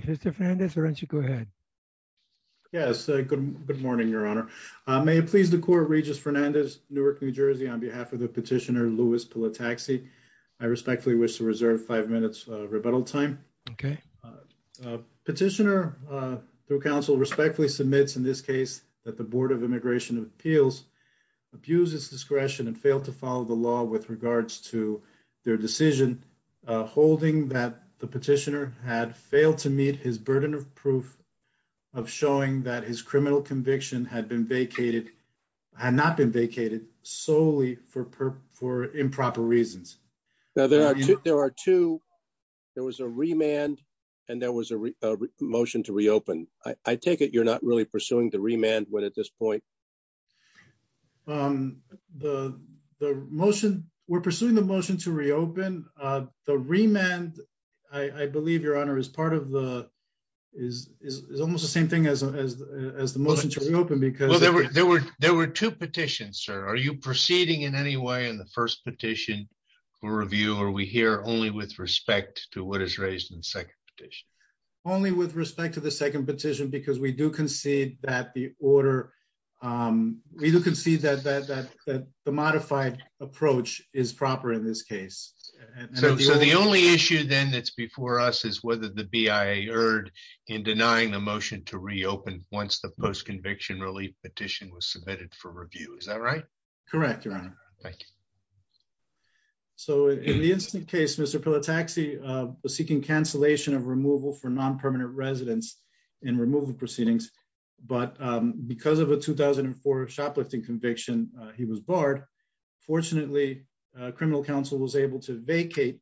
Mr. Fernandez, why don't you go ahead? Yes, good morning, Your Honor. May it please the Court, Regis Fernandez, Newark, New Jersey, on behalf of the petitioner Louis Pilataxi, I respectfully wish to reserve five minutes rebuttal time. Okay. Petitioner, through counsel, respectfully submits in this case that the Board of Immigration Appeals abused its discretion and failed to follow the law with regards to their decision holding that the his burden of proof of showing that his criminal conviction had been vacated, had not been vacated solely for improper reasons. Now, there are two, there was a remand and there was a motion to reopen. I take it you're not really pursuing the remand one at this point? The motion, we're pursuing the motion to reopen. The remand, I believe, Your Honor, is part of the is almost the same thing as the motion to reopen because... Well, there were two petitions, sir. Are you proceeding in any way in the first petition for review or are we here only with respect to what is raised in the second petition? Only with respect to the second petition because we do concede that the order, we do concede that the modified approach is proper in this case. So, the only issue then that's before us is whether the BIA erred in denying the motion to reopen once the post-conviction relief petition was submitted for review, is that right? Correct, Your Honor. Thank you. So, in the instant case, Mr. Pilataxi was seeking cancellation of removal for non-permanent residents in removal proceedings but because of a 2004 shoplifting conviction, he was barred. Fortunately, criminal counsel was able to vacate.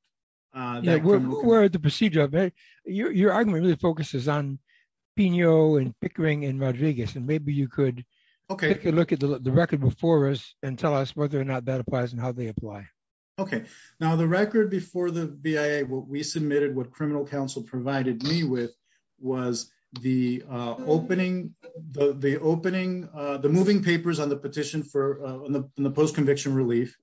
Who were the procedure of it? Your argument really focuses on Pino and Pickering and Rodriguez and maybe you could take a look at the record before us and tell us whether or not that applies and how they apply. Okay. Now, the record before the BIA, what we submitted, what criminal counsel provided me with was the opening, the opening, the moving papers on the petition for the post-conviction relief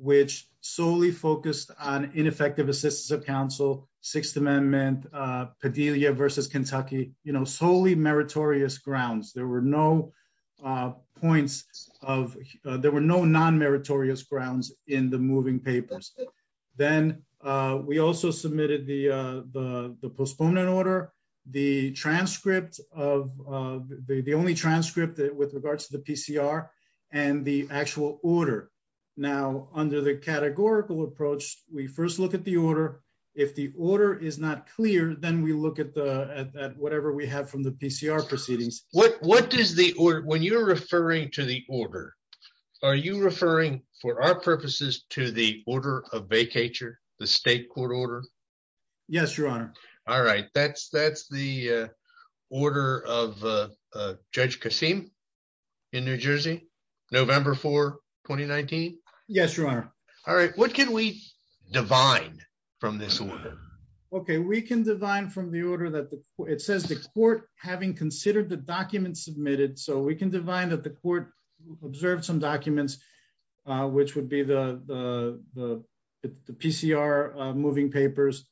which solely focused on ineffective assistance of counsel, Sixth Amendment, Padilla versus Kentucky, you know, solely meritorious grounds. There were no points of, there were no non-meritorious grounds in the moving papers. Then, we also submitted the postponement order, the transcript of, the only transcript with regards to the PCR and the actual order. Now, under the categorical approach, we first look at the order. If the order is not clear, then we look at the, at whatever we have from the PCR proceedings. What, what does the order, when you're referring to the order, are you referring for our purposes to the order of vacature, the state court order? Yes, your honor. All right, that's, that's the order of Judge Kasim in New Jersey, November 4, 2019? Yes, your honor. All right, what can we divine from this order? Okay, we can divine from the order that the, it says the court having considered the documents submitted. So, we can divine that the court observed some documents which would be the, the, the PCR moving papers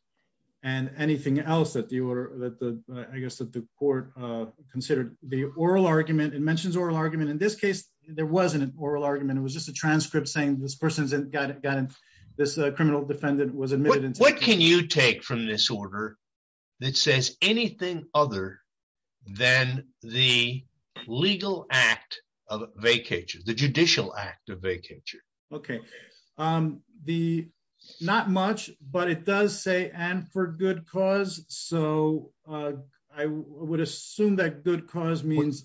and anything else that the order, that the, I guess that the court considered. The oral argument, it mentions oral argument. In this case, there wasn't an oral argument. It was just a transcript saying this person's got, got this criminal defendant was admitted. What can you take from this order that says anything other than the legal act of vacature, the judicial act of vacature? Okay, the, not much, but it does say and for good cause. So, I would assume that good cause means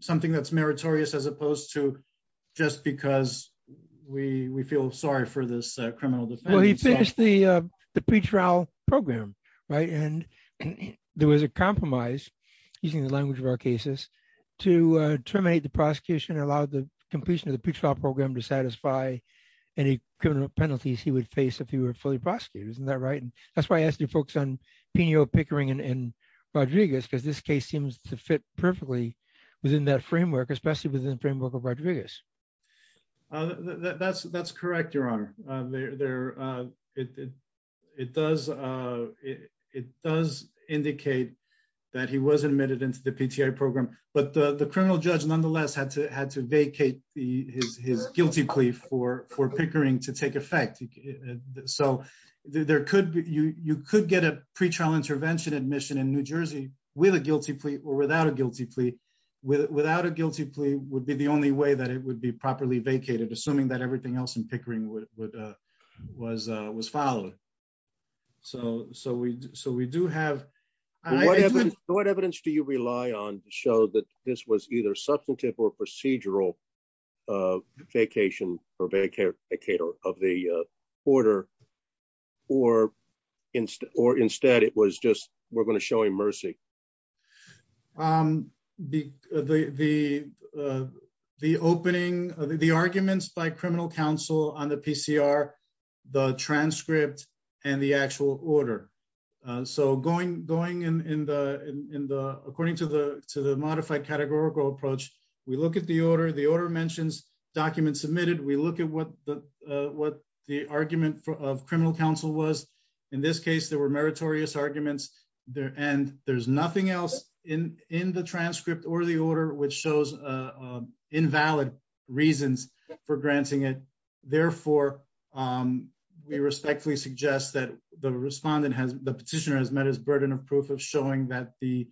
something that's meritorious as opposed to just because we, we feel sorry for this criminal defendant. Well, he finished the, the pretrial program, right? And there was a compromise, using the language of our cases, to terminate the completion of the pretrial program to satisfy any criminal penalties he would face if he were fully prosecuted. Isn't that right? And that's why I asked you folks on Pino Pickering and Rodriguez, because this case seems to fit perfectly within that framework, especially within the framework of Rodriguez. That's, that's correct, your honor. There, it does, it does indicate that he was admitted into the PTI program, but the criminal judge nonetheless had to, had to vacate the, his, his guilty plea for, for Pickering to take effect. So there could be, you, you could get a pretrial intervention admission in New Jersey with a guilty plea or without a guilty plea. Without a guilty plea would be the only way that it would be properly vacated, assuming that everything else in Pickering would, was, was followed. So, so we, so we do have... What evidence, what evidence do you rely on to show that this was either substantive or procedural vacation or vacator of the order, or instead, or instead it was just, we're going to show him mercy? The, the, the, the opening of the, the arguments by criminal counsel on the PCR, the transcript and the actual order. So going, going in, in the, in the, according to the, to the modified categorical approach, we look at the order, the order mentions documents submitted. We look at what the, what the argument of criminal counsel was. In this case, there were meritorious arguments there, and there's nothing else in, in the transcript or the order, which shows invalid reasons for granting it. Therefore, we respectfully suggest that the respondent has, the petitioner has met his burden of proof of showing that the,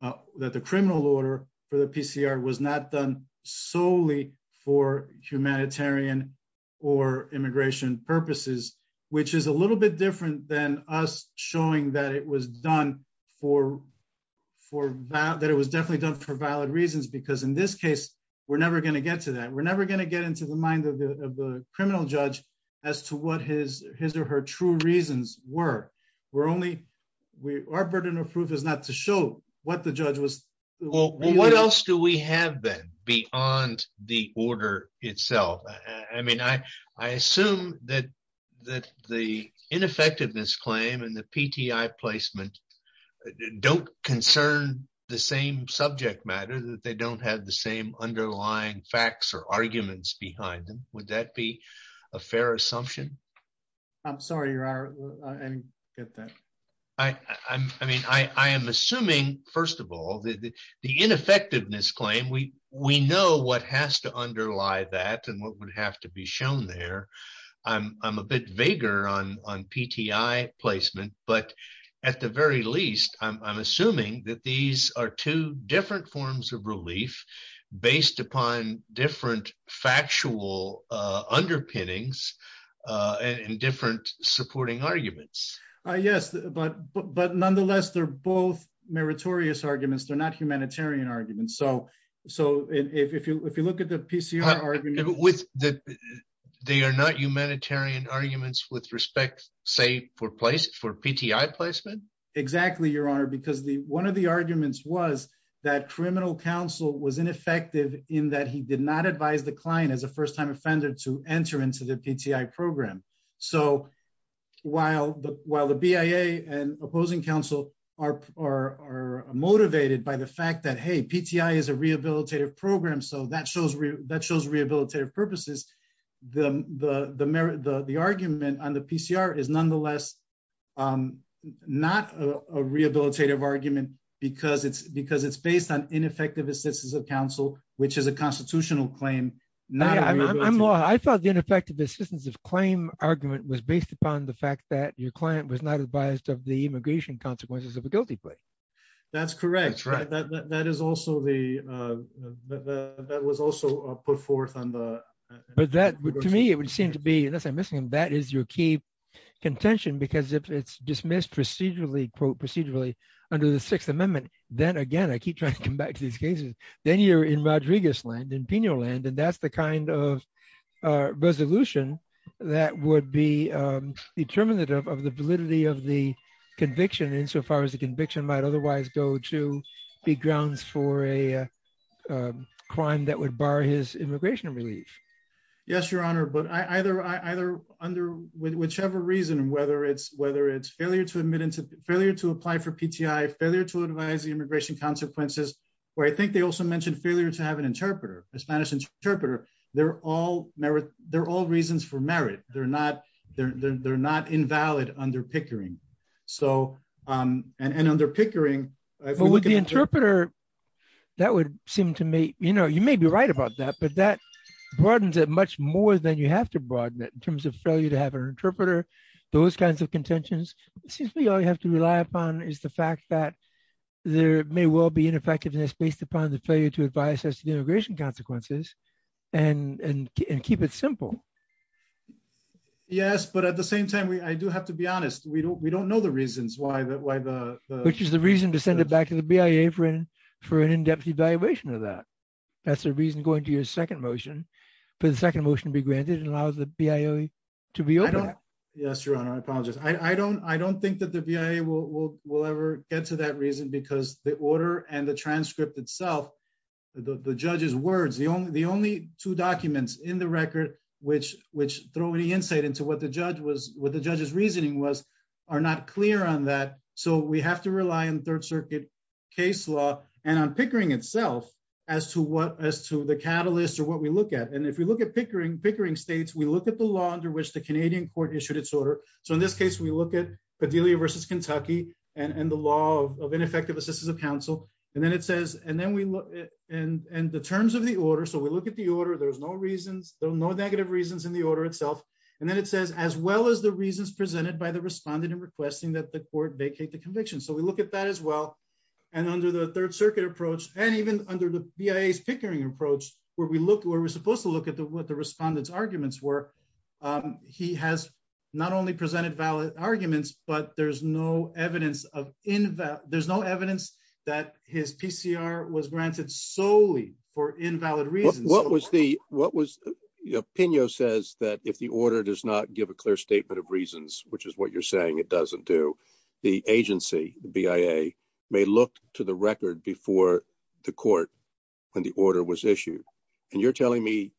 that the criminal order for the PCR was not done solely for humanitarian or immigration purposes, which is a little bit different than us showing that it was done for, for that, that it was definitely done for valid reasons, because in this case, we're never going to get to that. We're never going to get into the mind of the criminal judge as to what his, his or her true reasons were. We're only, we, our burden of proof is not to show what the judge was... That the ineffectiveness claim and the PTI placement don't concern the same subject matter, that they don't have the same underlying facts or arguments behind them. Would that be a fair assumption? I'm sorry, your honor, I didn't get that. I, I'm, I mean, I, I am assuming, first of all, that the ineffectiveness claim, we, we know what has to underlie that and what vaguer on, on PTI placement, but at the very least, I'm, I'm assuming that these are two different forms of relief based upon different factual underpinnings and different supporting arguments. Yes, but, but, but nonetheless, they're both meritorious arguments. They're not humanitarian arguments. So, so if you, if you look at the PCR argument... That they are not humanitarian arguments with respect, say, for place, for PTI placement? Exactly, your honor, because the, one of the arguments was that criminal counsel was ineffective in that he did not advise the client as a first-time offender to enter into the PTI program. So while the, while the BIA and opposing counsel are, are, are motivated by the fact that, hey, PTI is a rehabilitative program. So that shows, that shows rehabilitative purposes. The, the, the merit, the, the argument on the PCR is nonetheless not a rehabilitative argument because it's, because it's based on ineffective assistance of counsel, which is a constitutional claim. I thought the ineffective assistance of claim argument was based upon the fact that your client was not advised of the immigration consequences of a the, that was also put forth on the... But that, to me, it would seem to be, unless I'm missing, that is your key contention, because if it's dismissed procedurally, quote, procedurally under the Sixth Amendment, then again, I keep trying to come back to these cases, then you're in Rodriguez land, in Pino land, and that's the kind of resolution that would be determinative of the validity of the conviction insofar as the conviction might otherwise go to be grounds for a crime that would bar his immigration relief. Yes, Your Honor, but I either, I either under, with whichever reason, whether it's, whether it's failure to admit into, failure to apply for PTI, failure to advise the immigration consequences, where I think they also mentioned failure to have an interpreter, a Spanish interpreter, they're all merit, they're all reasons for merit. They're not, they're, they're, under pickering. But with the interpreter, that would seem to make, you know, you may be right about that, but that broadens it much more than you have to broaden it in terms of failure to have an interpreter, those kinds of contentions. It seems to me all you have to rely upon is the fact that there may well be ineffectiveness based upon the failure to advise as to the immigration consequences and, and keep it simple. Yes, but at the same time, we, I do have to be Which is the reason to send it back to the BIA for an, for an in-depth evaluation of that. That's the reason going to your second motion, for the second motion to be granted and allows the BIA to be open. Yes, Your Honor, I apologize. I don't, I don't think that the BIA will, will, will ever get to that reason because the order and the transcript itself, the judge's words, the only, the only two documents in the record, which, which throw any insight into what the third circuit case law and on Pickering itself as to what, as to the catalyst or what we look at. And if we look at Pickering, Pickering States, we look at the law under which the Canadian court issued its order. So in this case, we look at Padilla versus Kentucky and, and the law of ineffective assistance of counsel. And then it says, and then we look at, and, and the terms of the order. So we look at the order. There was no reasons, there were no negative reasons in the order itself. And then it says, as well as the reasons presented by the respondent and requesting that the court vacate the conviction. So we look at that as well. And under the third circuit approach, and even under the BIA Pickering approach, where we look, where we're supposed to look at the, what the respondent's arguments were. He has not only presented valid arguments, but there's no evidence of, there's no evidence that his PCR was granted solely for invalid reasons. What was the, what was, Pino says that if the order does not give a clear statement of the agency, the BIA may look to the record before the court when the order was issued. And you're telling me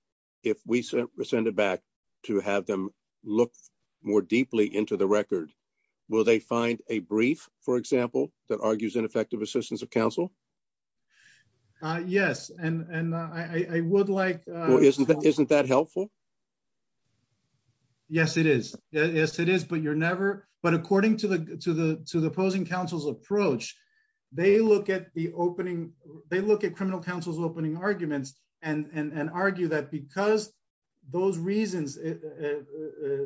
if we send it back to have them look more deeply into the record, will they find a brief, for example, that argues ineffective assistance of counsel? Yes. And, and I would like, isn't that helpful? Yes, it is. Yes, it is. But you're never, but according to the, to the, to the opposing counsel's approach, they look at the opening, they look at criminal counsel's opening arguments and, and, and argue that because those reasons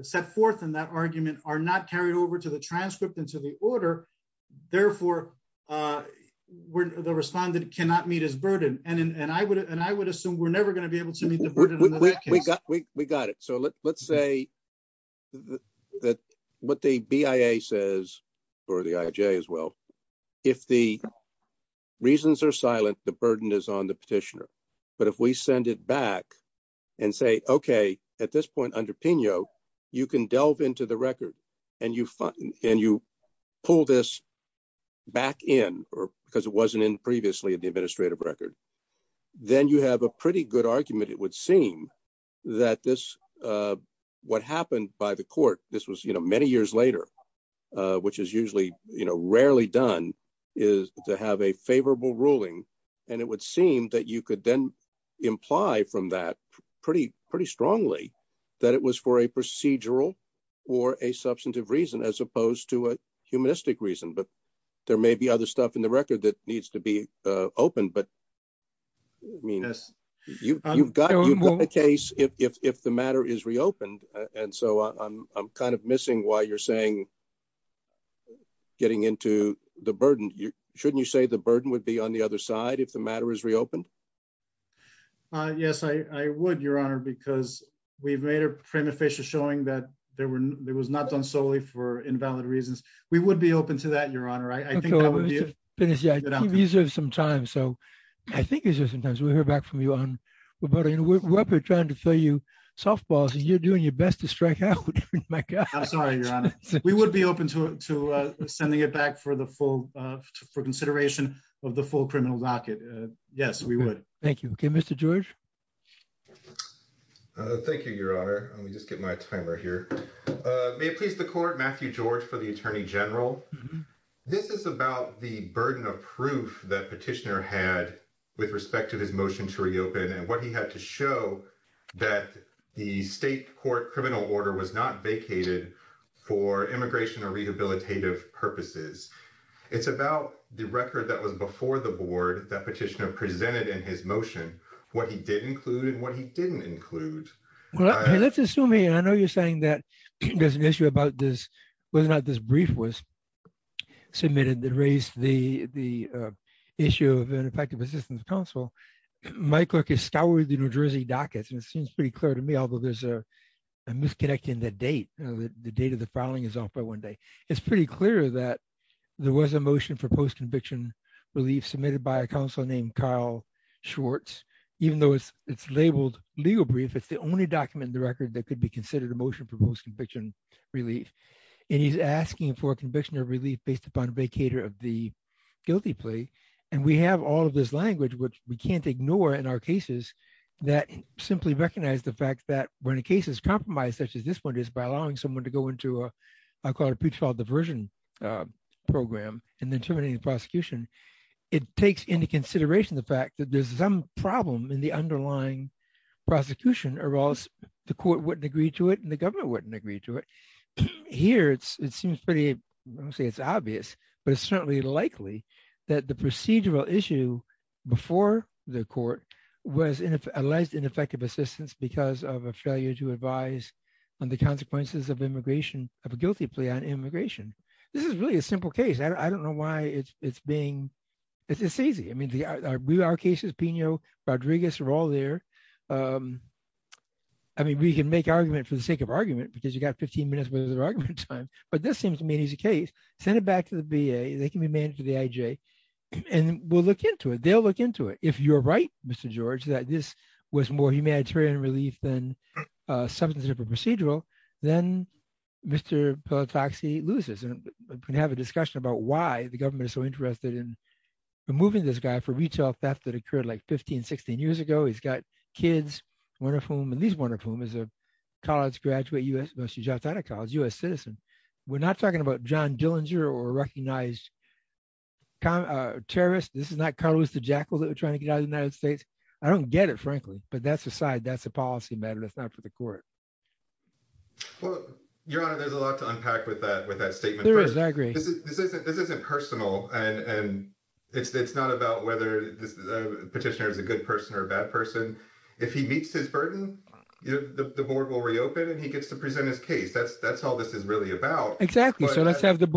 set forth in that argument are not carried over to the transcript into the order. Therefore, the respondent cannot meet his burden. And I would, and I would assume we're never going to be able to meet the burden. We got it. So let's say that what the BIA says, or the IJ as well, if the reasons are silent, the burden is on the petitioner. But if we send it back and say, okay, at this point under Pino, you can delve into the record and you find, and you pull this back in or because it wasn't in the administrative record, then you have a pretty good argument. It would seem that this, what happened by the court, this was, you know, many years later, which is usually, you know, rarely done is to have a favorable ruling. And it would seem that you could then imply from that pretty, pretty strongly that it was for a procedural or a substantive reason, as opposed to a humanistic reason. But there may be other stuff in the record that needs to be opened, but I mean, you've got a case if the matter is reopened. And so I'm kind of missing why you're saying getting into the burden, shouldn't you say the burden would be on the other side if the matter is reopened? Yes, I would, Your Honor, because we've made a prima facie showing that there was not done solely for invalid reasons. We would be open to that, Your Honor. I think that would be a- Okay, let me just finish. I keep using some time. So I think it's just sometimes we'll hear back from you on, we're up here trying to throw you softballs and you're doing your best to strike out. I'm sorry, Your Honor. We would be open to sending it back for consideration of the full criminal docket. Yes, we would. Thank you. Okay, Mr. George. Thank you, Your Honor. Let me just get my timer here. May it please the Court, Matthew George for the Attorney General. This is about the burden of proof that Petitioner had with respect to his motion to reopen and what he had to show that the state court criminal order was not vacated for immigration or rehabilitative purposes. It's about the record that was before the Board that Petitioner presented in his motion, what he did include and what he didn't include. Well, let's assume here, I know you're saying that there's an issue about whether or not this brief was submitted that raised the issue of an effective assistance counsel. My clerk has scoured the New Jersey dockets and it seems pretty clear to me, although there's a misconnect in the date, the date of the filing is off by one day. It's pretty clear that there was a motion for post-conviction relief submitted by a counsel named Carl Schwartz. Even though it's labeled legal brief, it's the only document in the record that could be considered a motion for post-conviction relief. And he's asking for conviction or relief based upon vacator of the guilty plea. And we have all of this language, which we can't ignore in our cases that simply recognize the fact that when a case is compromised, such as this one is by allowing someone to go into what I call a pretrial diversion program and then terminating the prosecution, it takes into consideration the fact that there's some problem in the underlying prosecution or else the court wouldn't agree to it and the government wouldn't agree to it. Here, it seems pretty, I don't want to say it's obvious, but it's certainly likely that the procedural issue before the court was a less ineffective assistance because of a failure to advise on the consequences of immigration, of a guilty plea on immigration. This is really a simple case. I don't know why it's being, it's easy. I mean, our cases, Pino, Rodriguez are all there. I mean, we can make argument for the sake of argument because you got 15 minutes of argument time, but this seems to me an easy case. Send it back to the VA. They can be managed by the IJ and we'll look into it. They'll look into it. If you're right, Mr. George, that this was more humanitarian relief than substantive or procedural, then Mr. Pelotaxi loses. And we can have a discussion about why the government is so interested in removing this guy for retail theft that occurred like 15, 16 years ago. He's got kids, one of whom, at least one of whom is a college graduate, U.S. citizen. We're not talking about John Dillinger or a recognized terrorist. This is not Carlos the Jackal that we're trying to get out of the United States. I don't get it, frankly, but that's aside, that's a policy matter. That's not for the court. Well, Your Honor, there's a lot to unpack with that statement. There is, I agree. This isn't personal and it's not about whether the petitioner is a good person or a bad person. If he meets his burden, the board will reopen and he gets to present his case. That's all this is really about. Exactly. So let's give the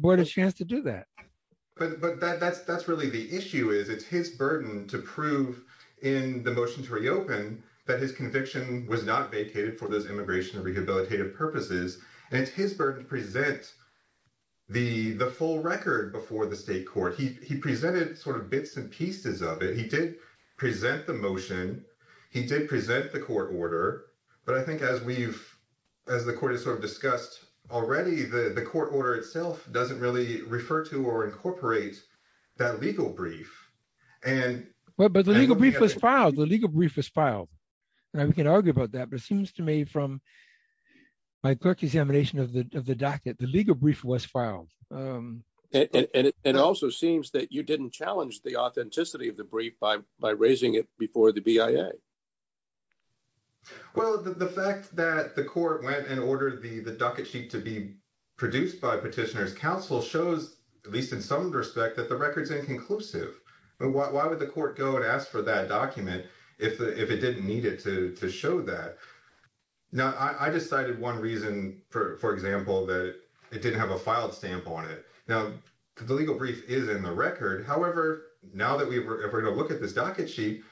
board a chance to do that. But that's really the issue, is it's his burden to prove in the motion to reopen that his conviction was not vacated for immigration and rehabilitative purposes, and it's his burden to present the full record before the state court. He presented bits and pieces of it. He did present the motion. He did present the court order. But I think as the court has discussed already, the court order itself doesn't really refer to or incorporate that legal brief. But the legal brief was filed. Now, we can argue about that, but it seems to me from my clerk examination of the docket, the legal brief was filed. And it also seems that you didn't challenge the authenticity of the brief by raising it before the BIA. Well, the fact that the court went and ordered the docket sheet to be produced by Petitioner's Counsel shows, at least in some respect, that the record is inconclusive. Why would the court go and didn't need it to show that? Now, I just cited one reason, for example, that it didn't have a filed stamp on it. Now, the legal brief is in the record. However, now that we're going to look at this docket sheet,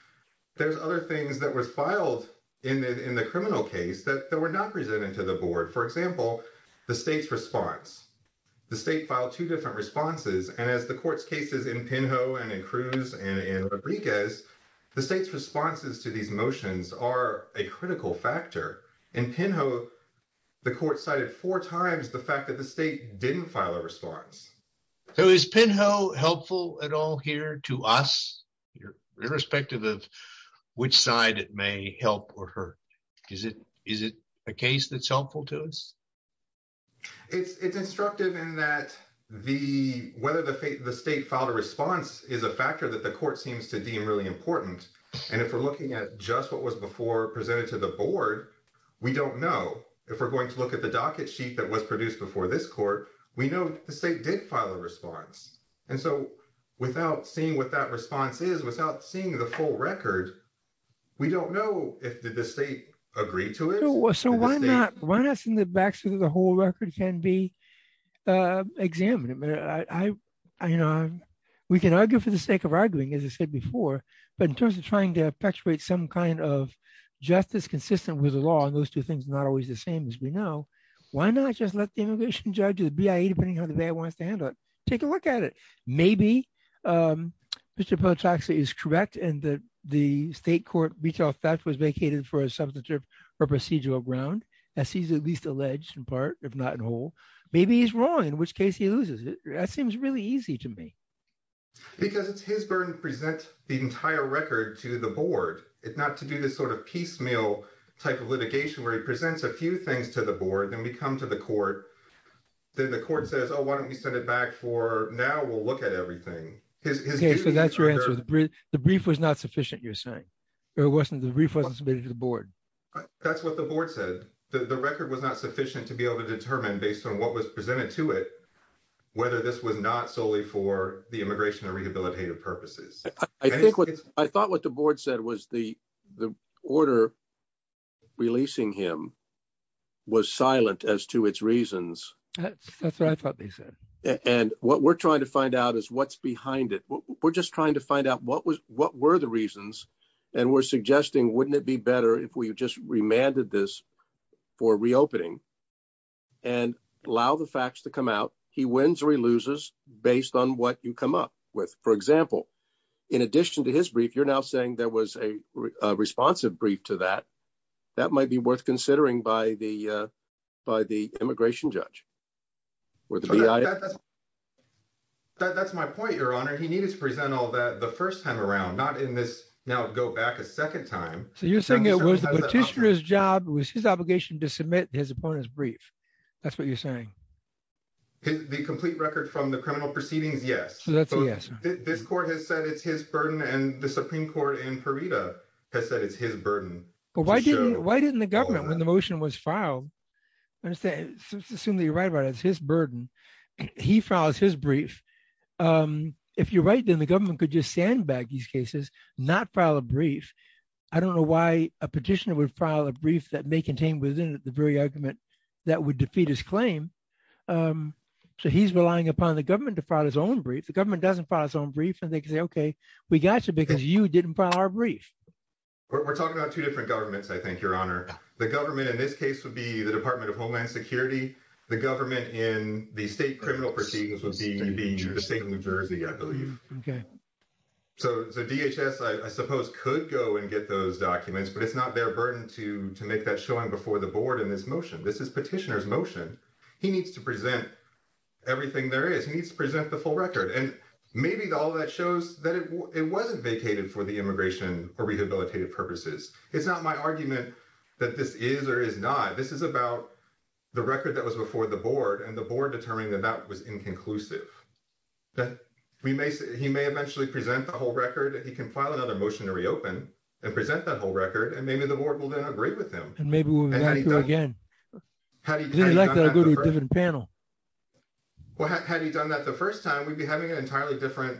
there's other things that were filed in the criminal case that were not presented to the board. For example, the state's response. The state filed two different responses. And as the court's case is in Penho and in Cruz and in Rodriguez, the state's responses to these motions are a critical factor. In Penho, the court cited four times the fact that the state didn't file a response. So is Penho helpful at all here to us, irrespective of which side it may help or hurt? Is it a case that's helpful to us? It's instructive in that whether the state filed a response is a factor that the court seems to deem really important. And if we're looking at just what was before presented to the board, we don't know. If we're going to look at the docket sheet that was produced before this court, we know the state did file a response. And so without seeing what that response is, without seeing the full record, we don't know if the state agreed to it. Why not see that the whole record can be examined? We can argue for the sake of arguing, as I said before, but in terms of trying to perpetuate some kind of justice consistent with the law, and those two things are not always the same as we know, why not just let the immigration judge or the BIA, depending on how the BIA wants to handle it, take a look at it. Maybe Mr. Pelotaxi is correct in that the state court retail theft was vacated for a substantive or procedural ground, as he's at least alleged in part, if not in whole. Maybe he's wrong, in which case he loses it. That seems really easy to me. Because it's his burden to present the entire record to the board, not to do this sort of piecemeal type of litigation where he presents a few things to the board, then we come to the court, then the court says, oh, why don't we send it back for now, we'll look at everything. Okay, so that's your answer. The brief was not sufficient, you're saying? Or the brief wasn't submitted to the board? That's what the board said. The record was not sufficient to be able to determine based on what was presented to it, whether this was not solely for the immigration or rehabilitative purposes. I thought what the board said was the order releasing him was silent as to its reasons. That's what I thought they said. And what we're trying to find out is what's behind it. We're just trying to find out what were the reasons, and we're suggesting wouldn't it be better if we just remanded this for reopening and allow the facts to come out. He wins or he loses based on what you come up with. For example, in addition to his brief, you're now saying there was a responsive brief to that. That might be worth considering by the immigration judge. That's my point, your honor. He needed to present all that the first time around, not in this now go back a second time. So you're saying it was the petitioner's job, it was his obligation to submit his opponent's brief. That's what you're saying? The complete record from the criminal proceedings, yes. So that's a yes. This court has said it's his burden, and the Supreme Court in Farida has said it's his burden. Why didn't the government, when the motion was filed, assume that you're right about it, it's his burden. He files his brief. If you're right, then the government could just stand back these cases, not file a brief. I don't know why a petitioner would file a brief that may contain within it the very argument that would defeat his claim. So he's relying upon the government to file his own brief. The government doesn't file its own brief, and they can say, okay, we got you because you didn't file our brief. We're talking about two different governments, I think, your honor. The government in this case would be the Department of Homeland Security. The government in the state criminal proceedings would be the state of New Jersey, I believe. So DHS, I suppose, could go and get those documents, but it's not their burden to make that showing before the board in this motion. This is petitioner's motion. He needs to present everything there is. He needs to present the full record. And maybe all that shows that it wasn't vacated for the immigration or rehabilitative purposes. It's not my argument that this is or is not. This is about the record that was before the board and the board determining that that was inconclusive. He may eventually present the whole record. He can file another motion to reopen and present that whole record, and maybe the board will then agree with him. Maybe we'll have to go again. I'd like to go to a different panel. Well, had he done that the first time, we'd be having an entirely different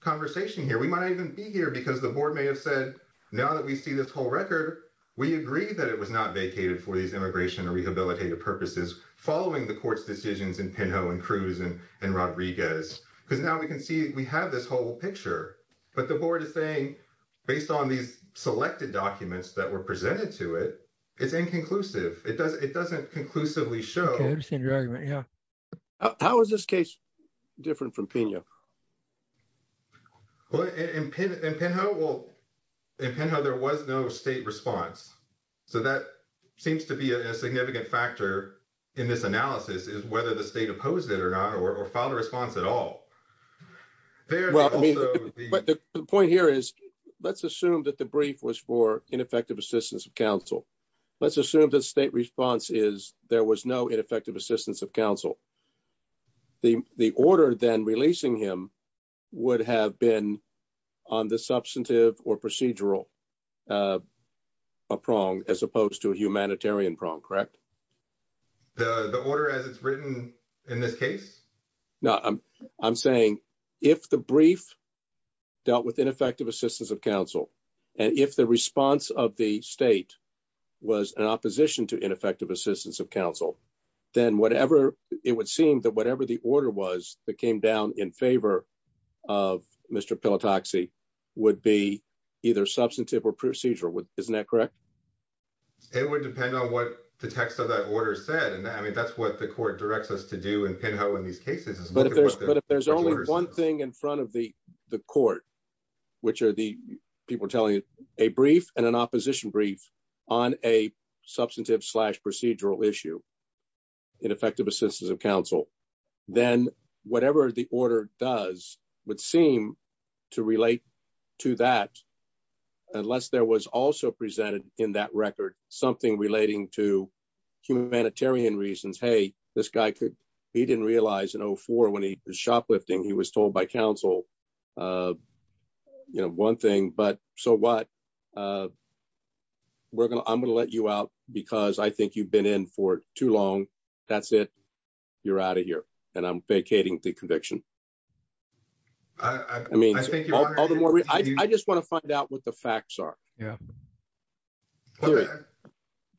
conversation here. We might not even be here because the board may have said, now that we see this whole record, we agree that it was not vacated for these immigration or rehabilitative purposes following the court's decisions in Pinho and Cruz and Rodriguez. Because now we can see we have this whole picture. But the board is saying, based on these it's inconclusive. It doesn't conclusively show. Okay, I understand your argument. Yeah. How is this case different from Pinho? Well, in Pinho, there was no state response. So that seems to be a significant factor in this analysis is whether the state opposed it or not or filed a response at all. But the point here is, let's assume that the brief was for ineffective assistance of counsel. Let's assume the state response is there was no ineffective assistance of counsel. The order then releasing him would have been on the substantive or procedural prong as opposed to a humanitarian prong, correct? The order as it's written in this case? No, I'm saying if the brief dealt with ineffective assistance of counsel, and if the response of the state was an opposition to ineffective assistance of counsel, then it would seem that whatever the order was that came down in favor of Mr. Pelotoxy would be either substantive or procedural. Isn't that correct? It would depend on what the text of that order said. And I mean, that's what the court directs us to do in Pinho in these cases. But if there's only one thing in front of the court, which are the people telling you a brief and an opposition brief on a substantive slash procedural issue, ineffective assistance of counsel, then whatever the order does would seem to relate to that. Unless there was also presented in that record, something relating to humanitarian reasons, hey, this guy could, he didn't realize in 04 when he was shoplifting, he was told by counsel, you know, one thing, but so what? I'm going to let you out, because I think you've been in for too long. That's it. You're out of here. And I'm vacating the conviction. I mean, I just want to find out what the facts are. Yeah.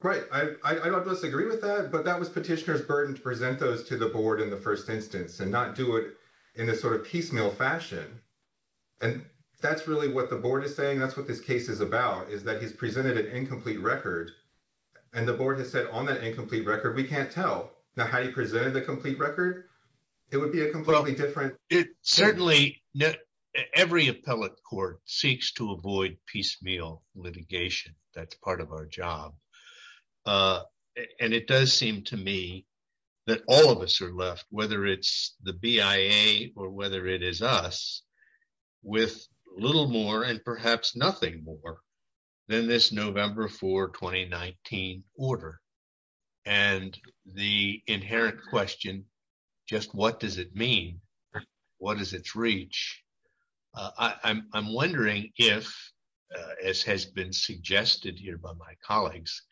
Right. I don't disagree with that. But that was petitioner's burden to present those to the board in the first instance and not do it in a sort of piecemeal fashion. And that's really what the board is saying. That's what this case is about, is that he's presented an incomplete record. And the board has said on that incomplete record, we can't tell. Now, how do you present the complete record? It would be a completely different. It certainly, every appellate court seeks to avoid piecemeal litigation. That's part of our job. And it does seem to me that all of us are left, whether it's the BIA or whether it is us, with little more and perhaps nothing more than this November 4, 2019 order. And the inherent question, just what does it mean? What is its reach? I'm wondering if, as has been suggested here by my colleagues,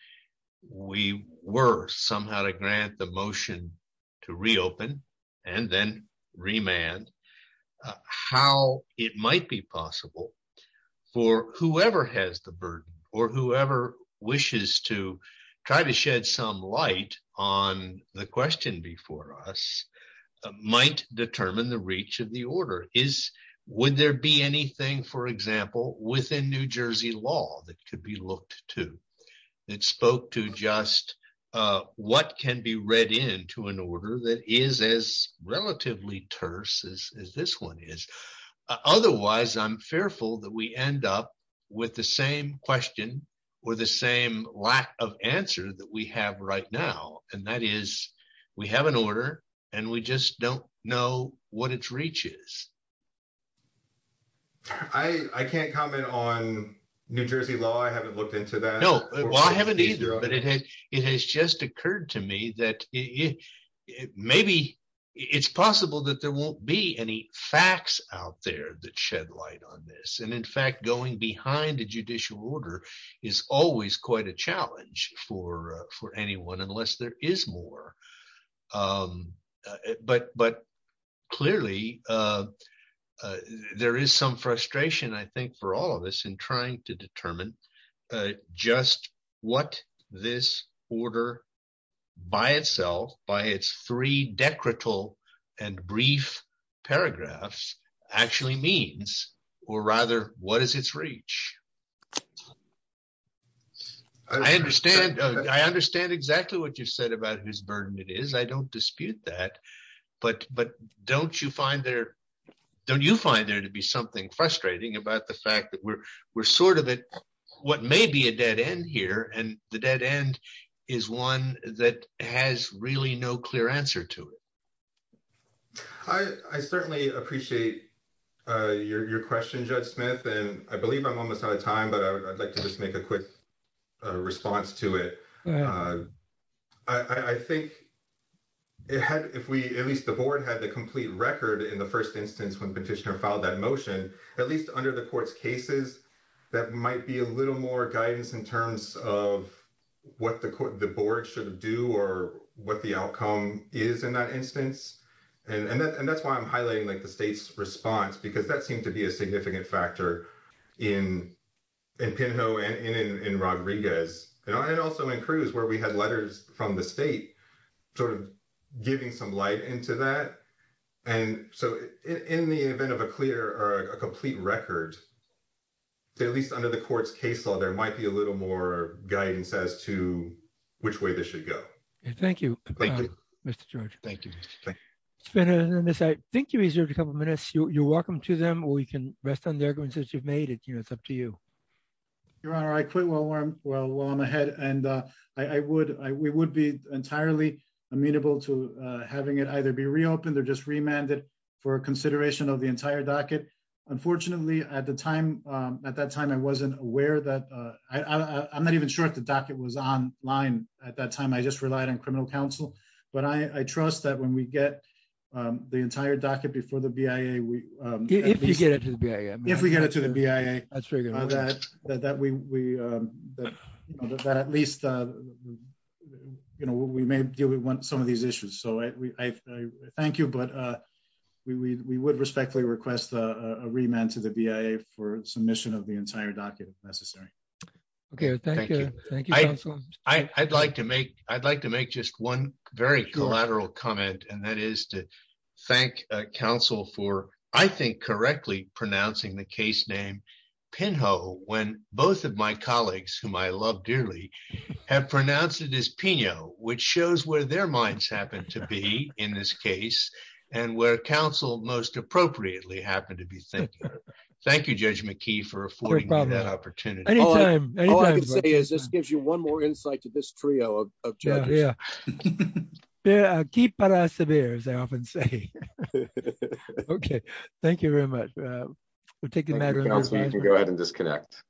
we were somehow to grant the motion to reopen and then remand, how it might be possible for whoever has the burden or whoever wishes to try to shed some light on the question before us might determine the reach of the order. Would there be anything, for example, within New Jersey law that could be looked to that spoke to just what can be read into an order that is as relatively terse as this one is? Otherwise, I'm fearful that we end up with the same question or the same lack of answer that we have right now. And that is, we have an order and we just don't know what its reach is. I can't comment on New Jersey law. I haven't looked into that. No, well, I haven't either. But it has just occurred to me that maybe it's possible that there won't be any facts out there that shed light on this. And in fact, going behind a judicial order is always quite a challenge for anyone, unless there is more. But clearly, there is some frustration, I think, for all of us in trying to determine just what this order by itself, by its three decretal and brief paragraphs, actually means. Or rather, what is its reach? I understand. I understand exactly what you said about whose burden it is. I don't dispute that. But don't you find there to be something frustrating about the fact that we're sort of at what may be a dead end here. And the dead end is one that has really no clear answer to it. I certainly appreciate your question, Judge Smith. And I believe I'm almost out of time, but I'd like to just make a quick response to it. I think if we, at least the board, had the complete record in the first instance when petitioner filed that motion, at least under the court's cases, that might be a little more guidance in terms of what the board should do or what the outcome is in that instance. And that's why I'm highlighting the state's response, because that seemed to be a significant factor in Pinho and in Rodriguez, and also in Cruz, where we had letters from the state sort of giving some light into that. And so, in the event of a clear or a complete record, at least under the court's case law, there might be a little more guidance as to which way this should go. Thank you, Mr. George. Thank you. I think you reserved a couple minutes. You're welcome to them, or you can rest on the arguments that you've made. It's up to you. Your Honor, I quit while I'm ahead. And we would be entirely amenable to having it either be reopened or just at that time, I wasn't aware. I'm not even sure if the docket was online at that time. I just relied on criminal counsel. But I trust that when we get the entire docket before the BIA, if we get it to the BIA, that at least we may deal with some of these issues. So, thank you. But we would respectfully request a remand to the BIA for submission of the entire docket if necessary. Okay. Thank you. Thank you, counsel. I'd like to make just one very collateral comment, and that is to thank counsel for, I think, correctly pronouncing the case name Pinho, when both of my colleagues, whom I love dearly, have pronounced it as Pinho, which shows where their minds happen to be in this case, and where counsel most appropriately happened to be thinking of it. Thank you, Judge McKee, for affording me that opportunity. Any time. All I can say is this gives you one more insight to this trio of judges. Yeah. Keep it as it is, as I often say. Okay. Thank you very much. You can go ahead and disconnect.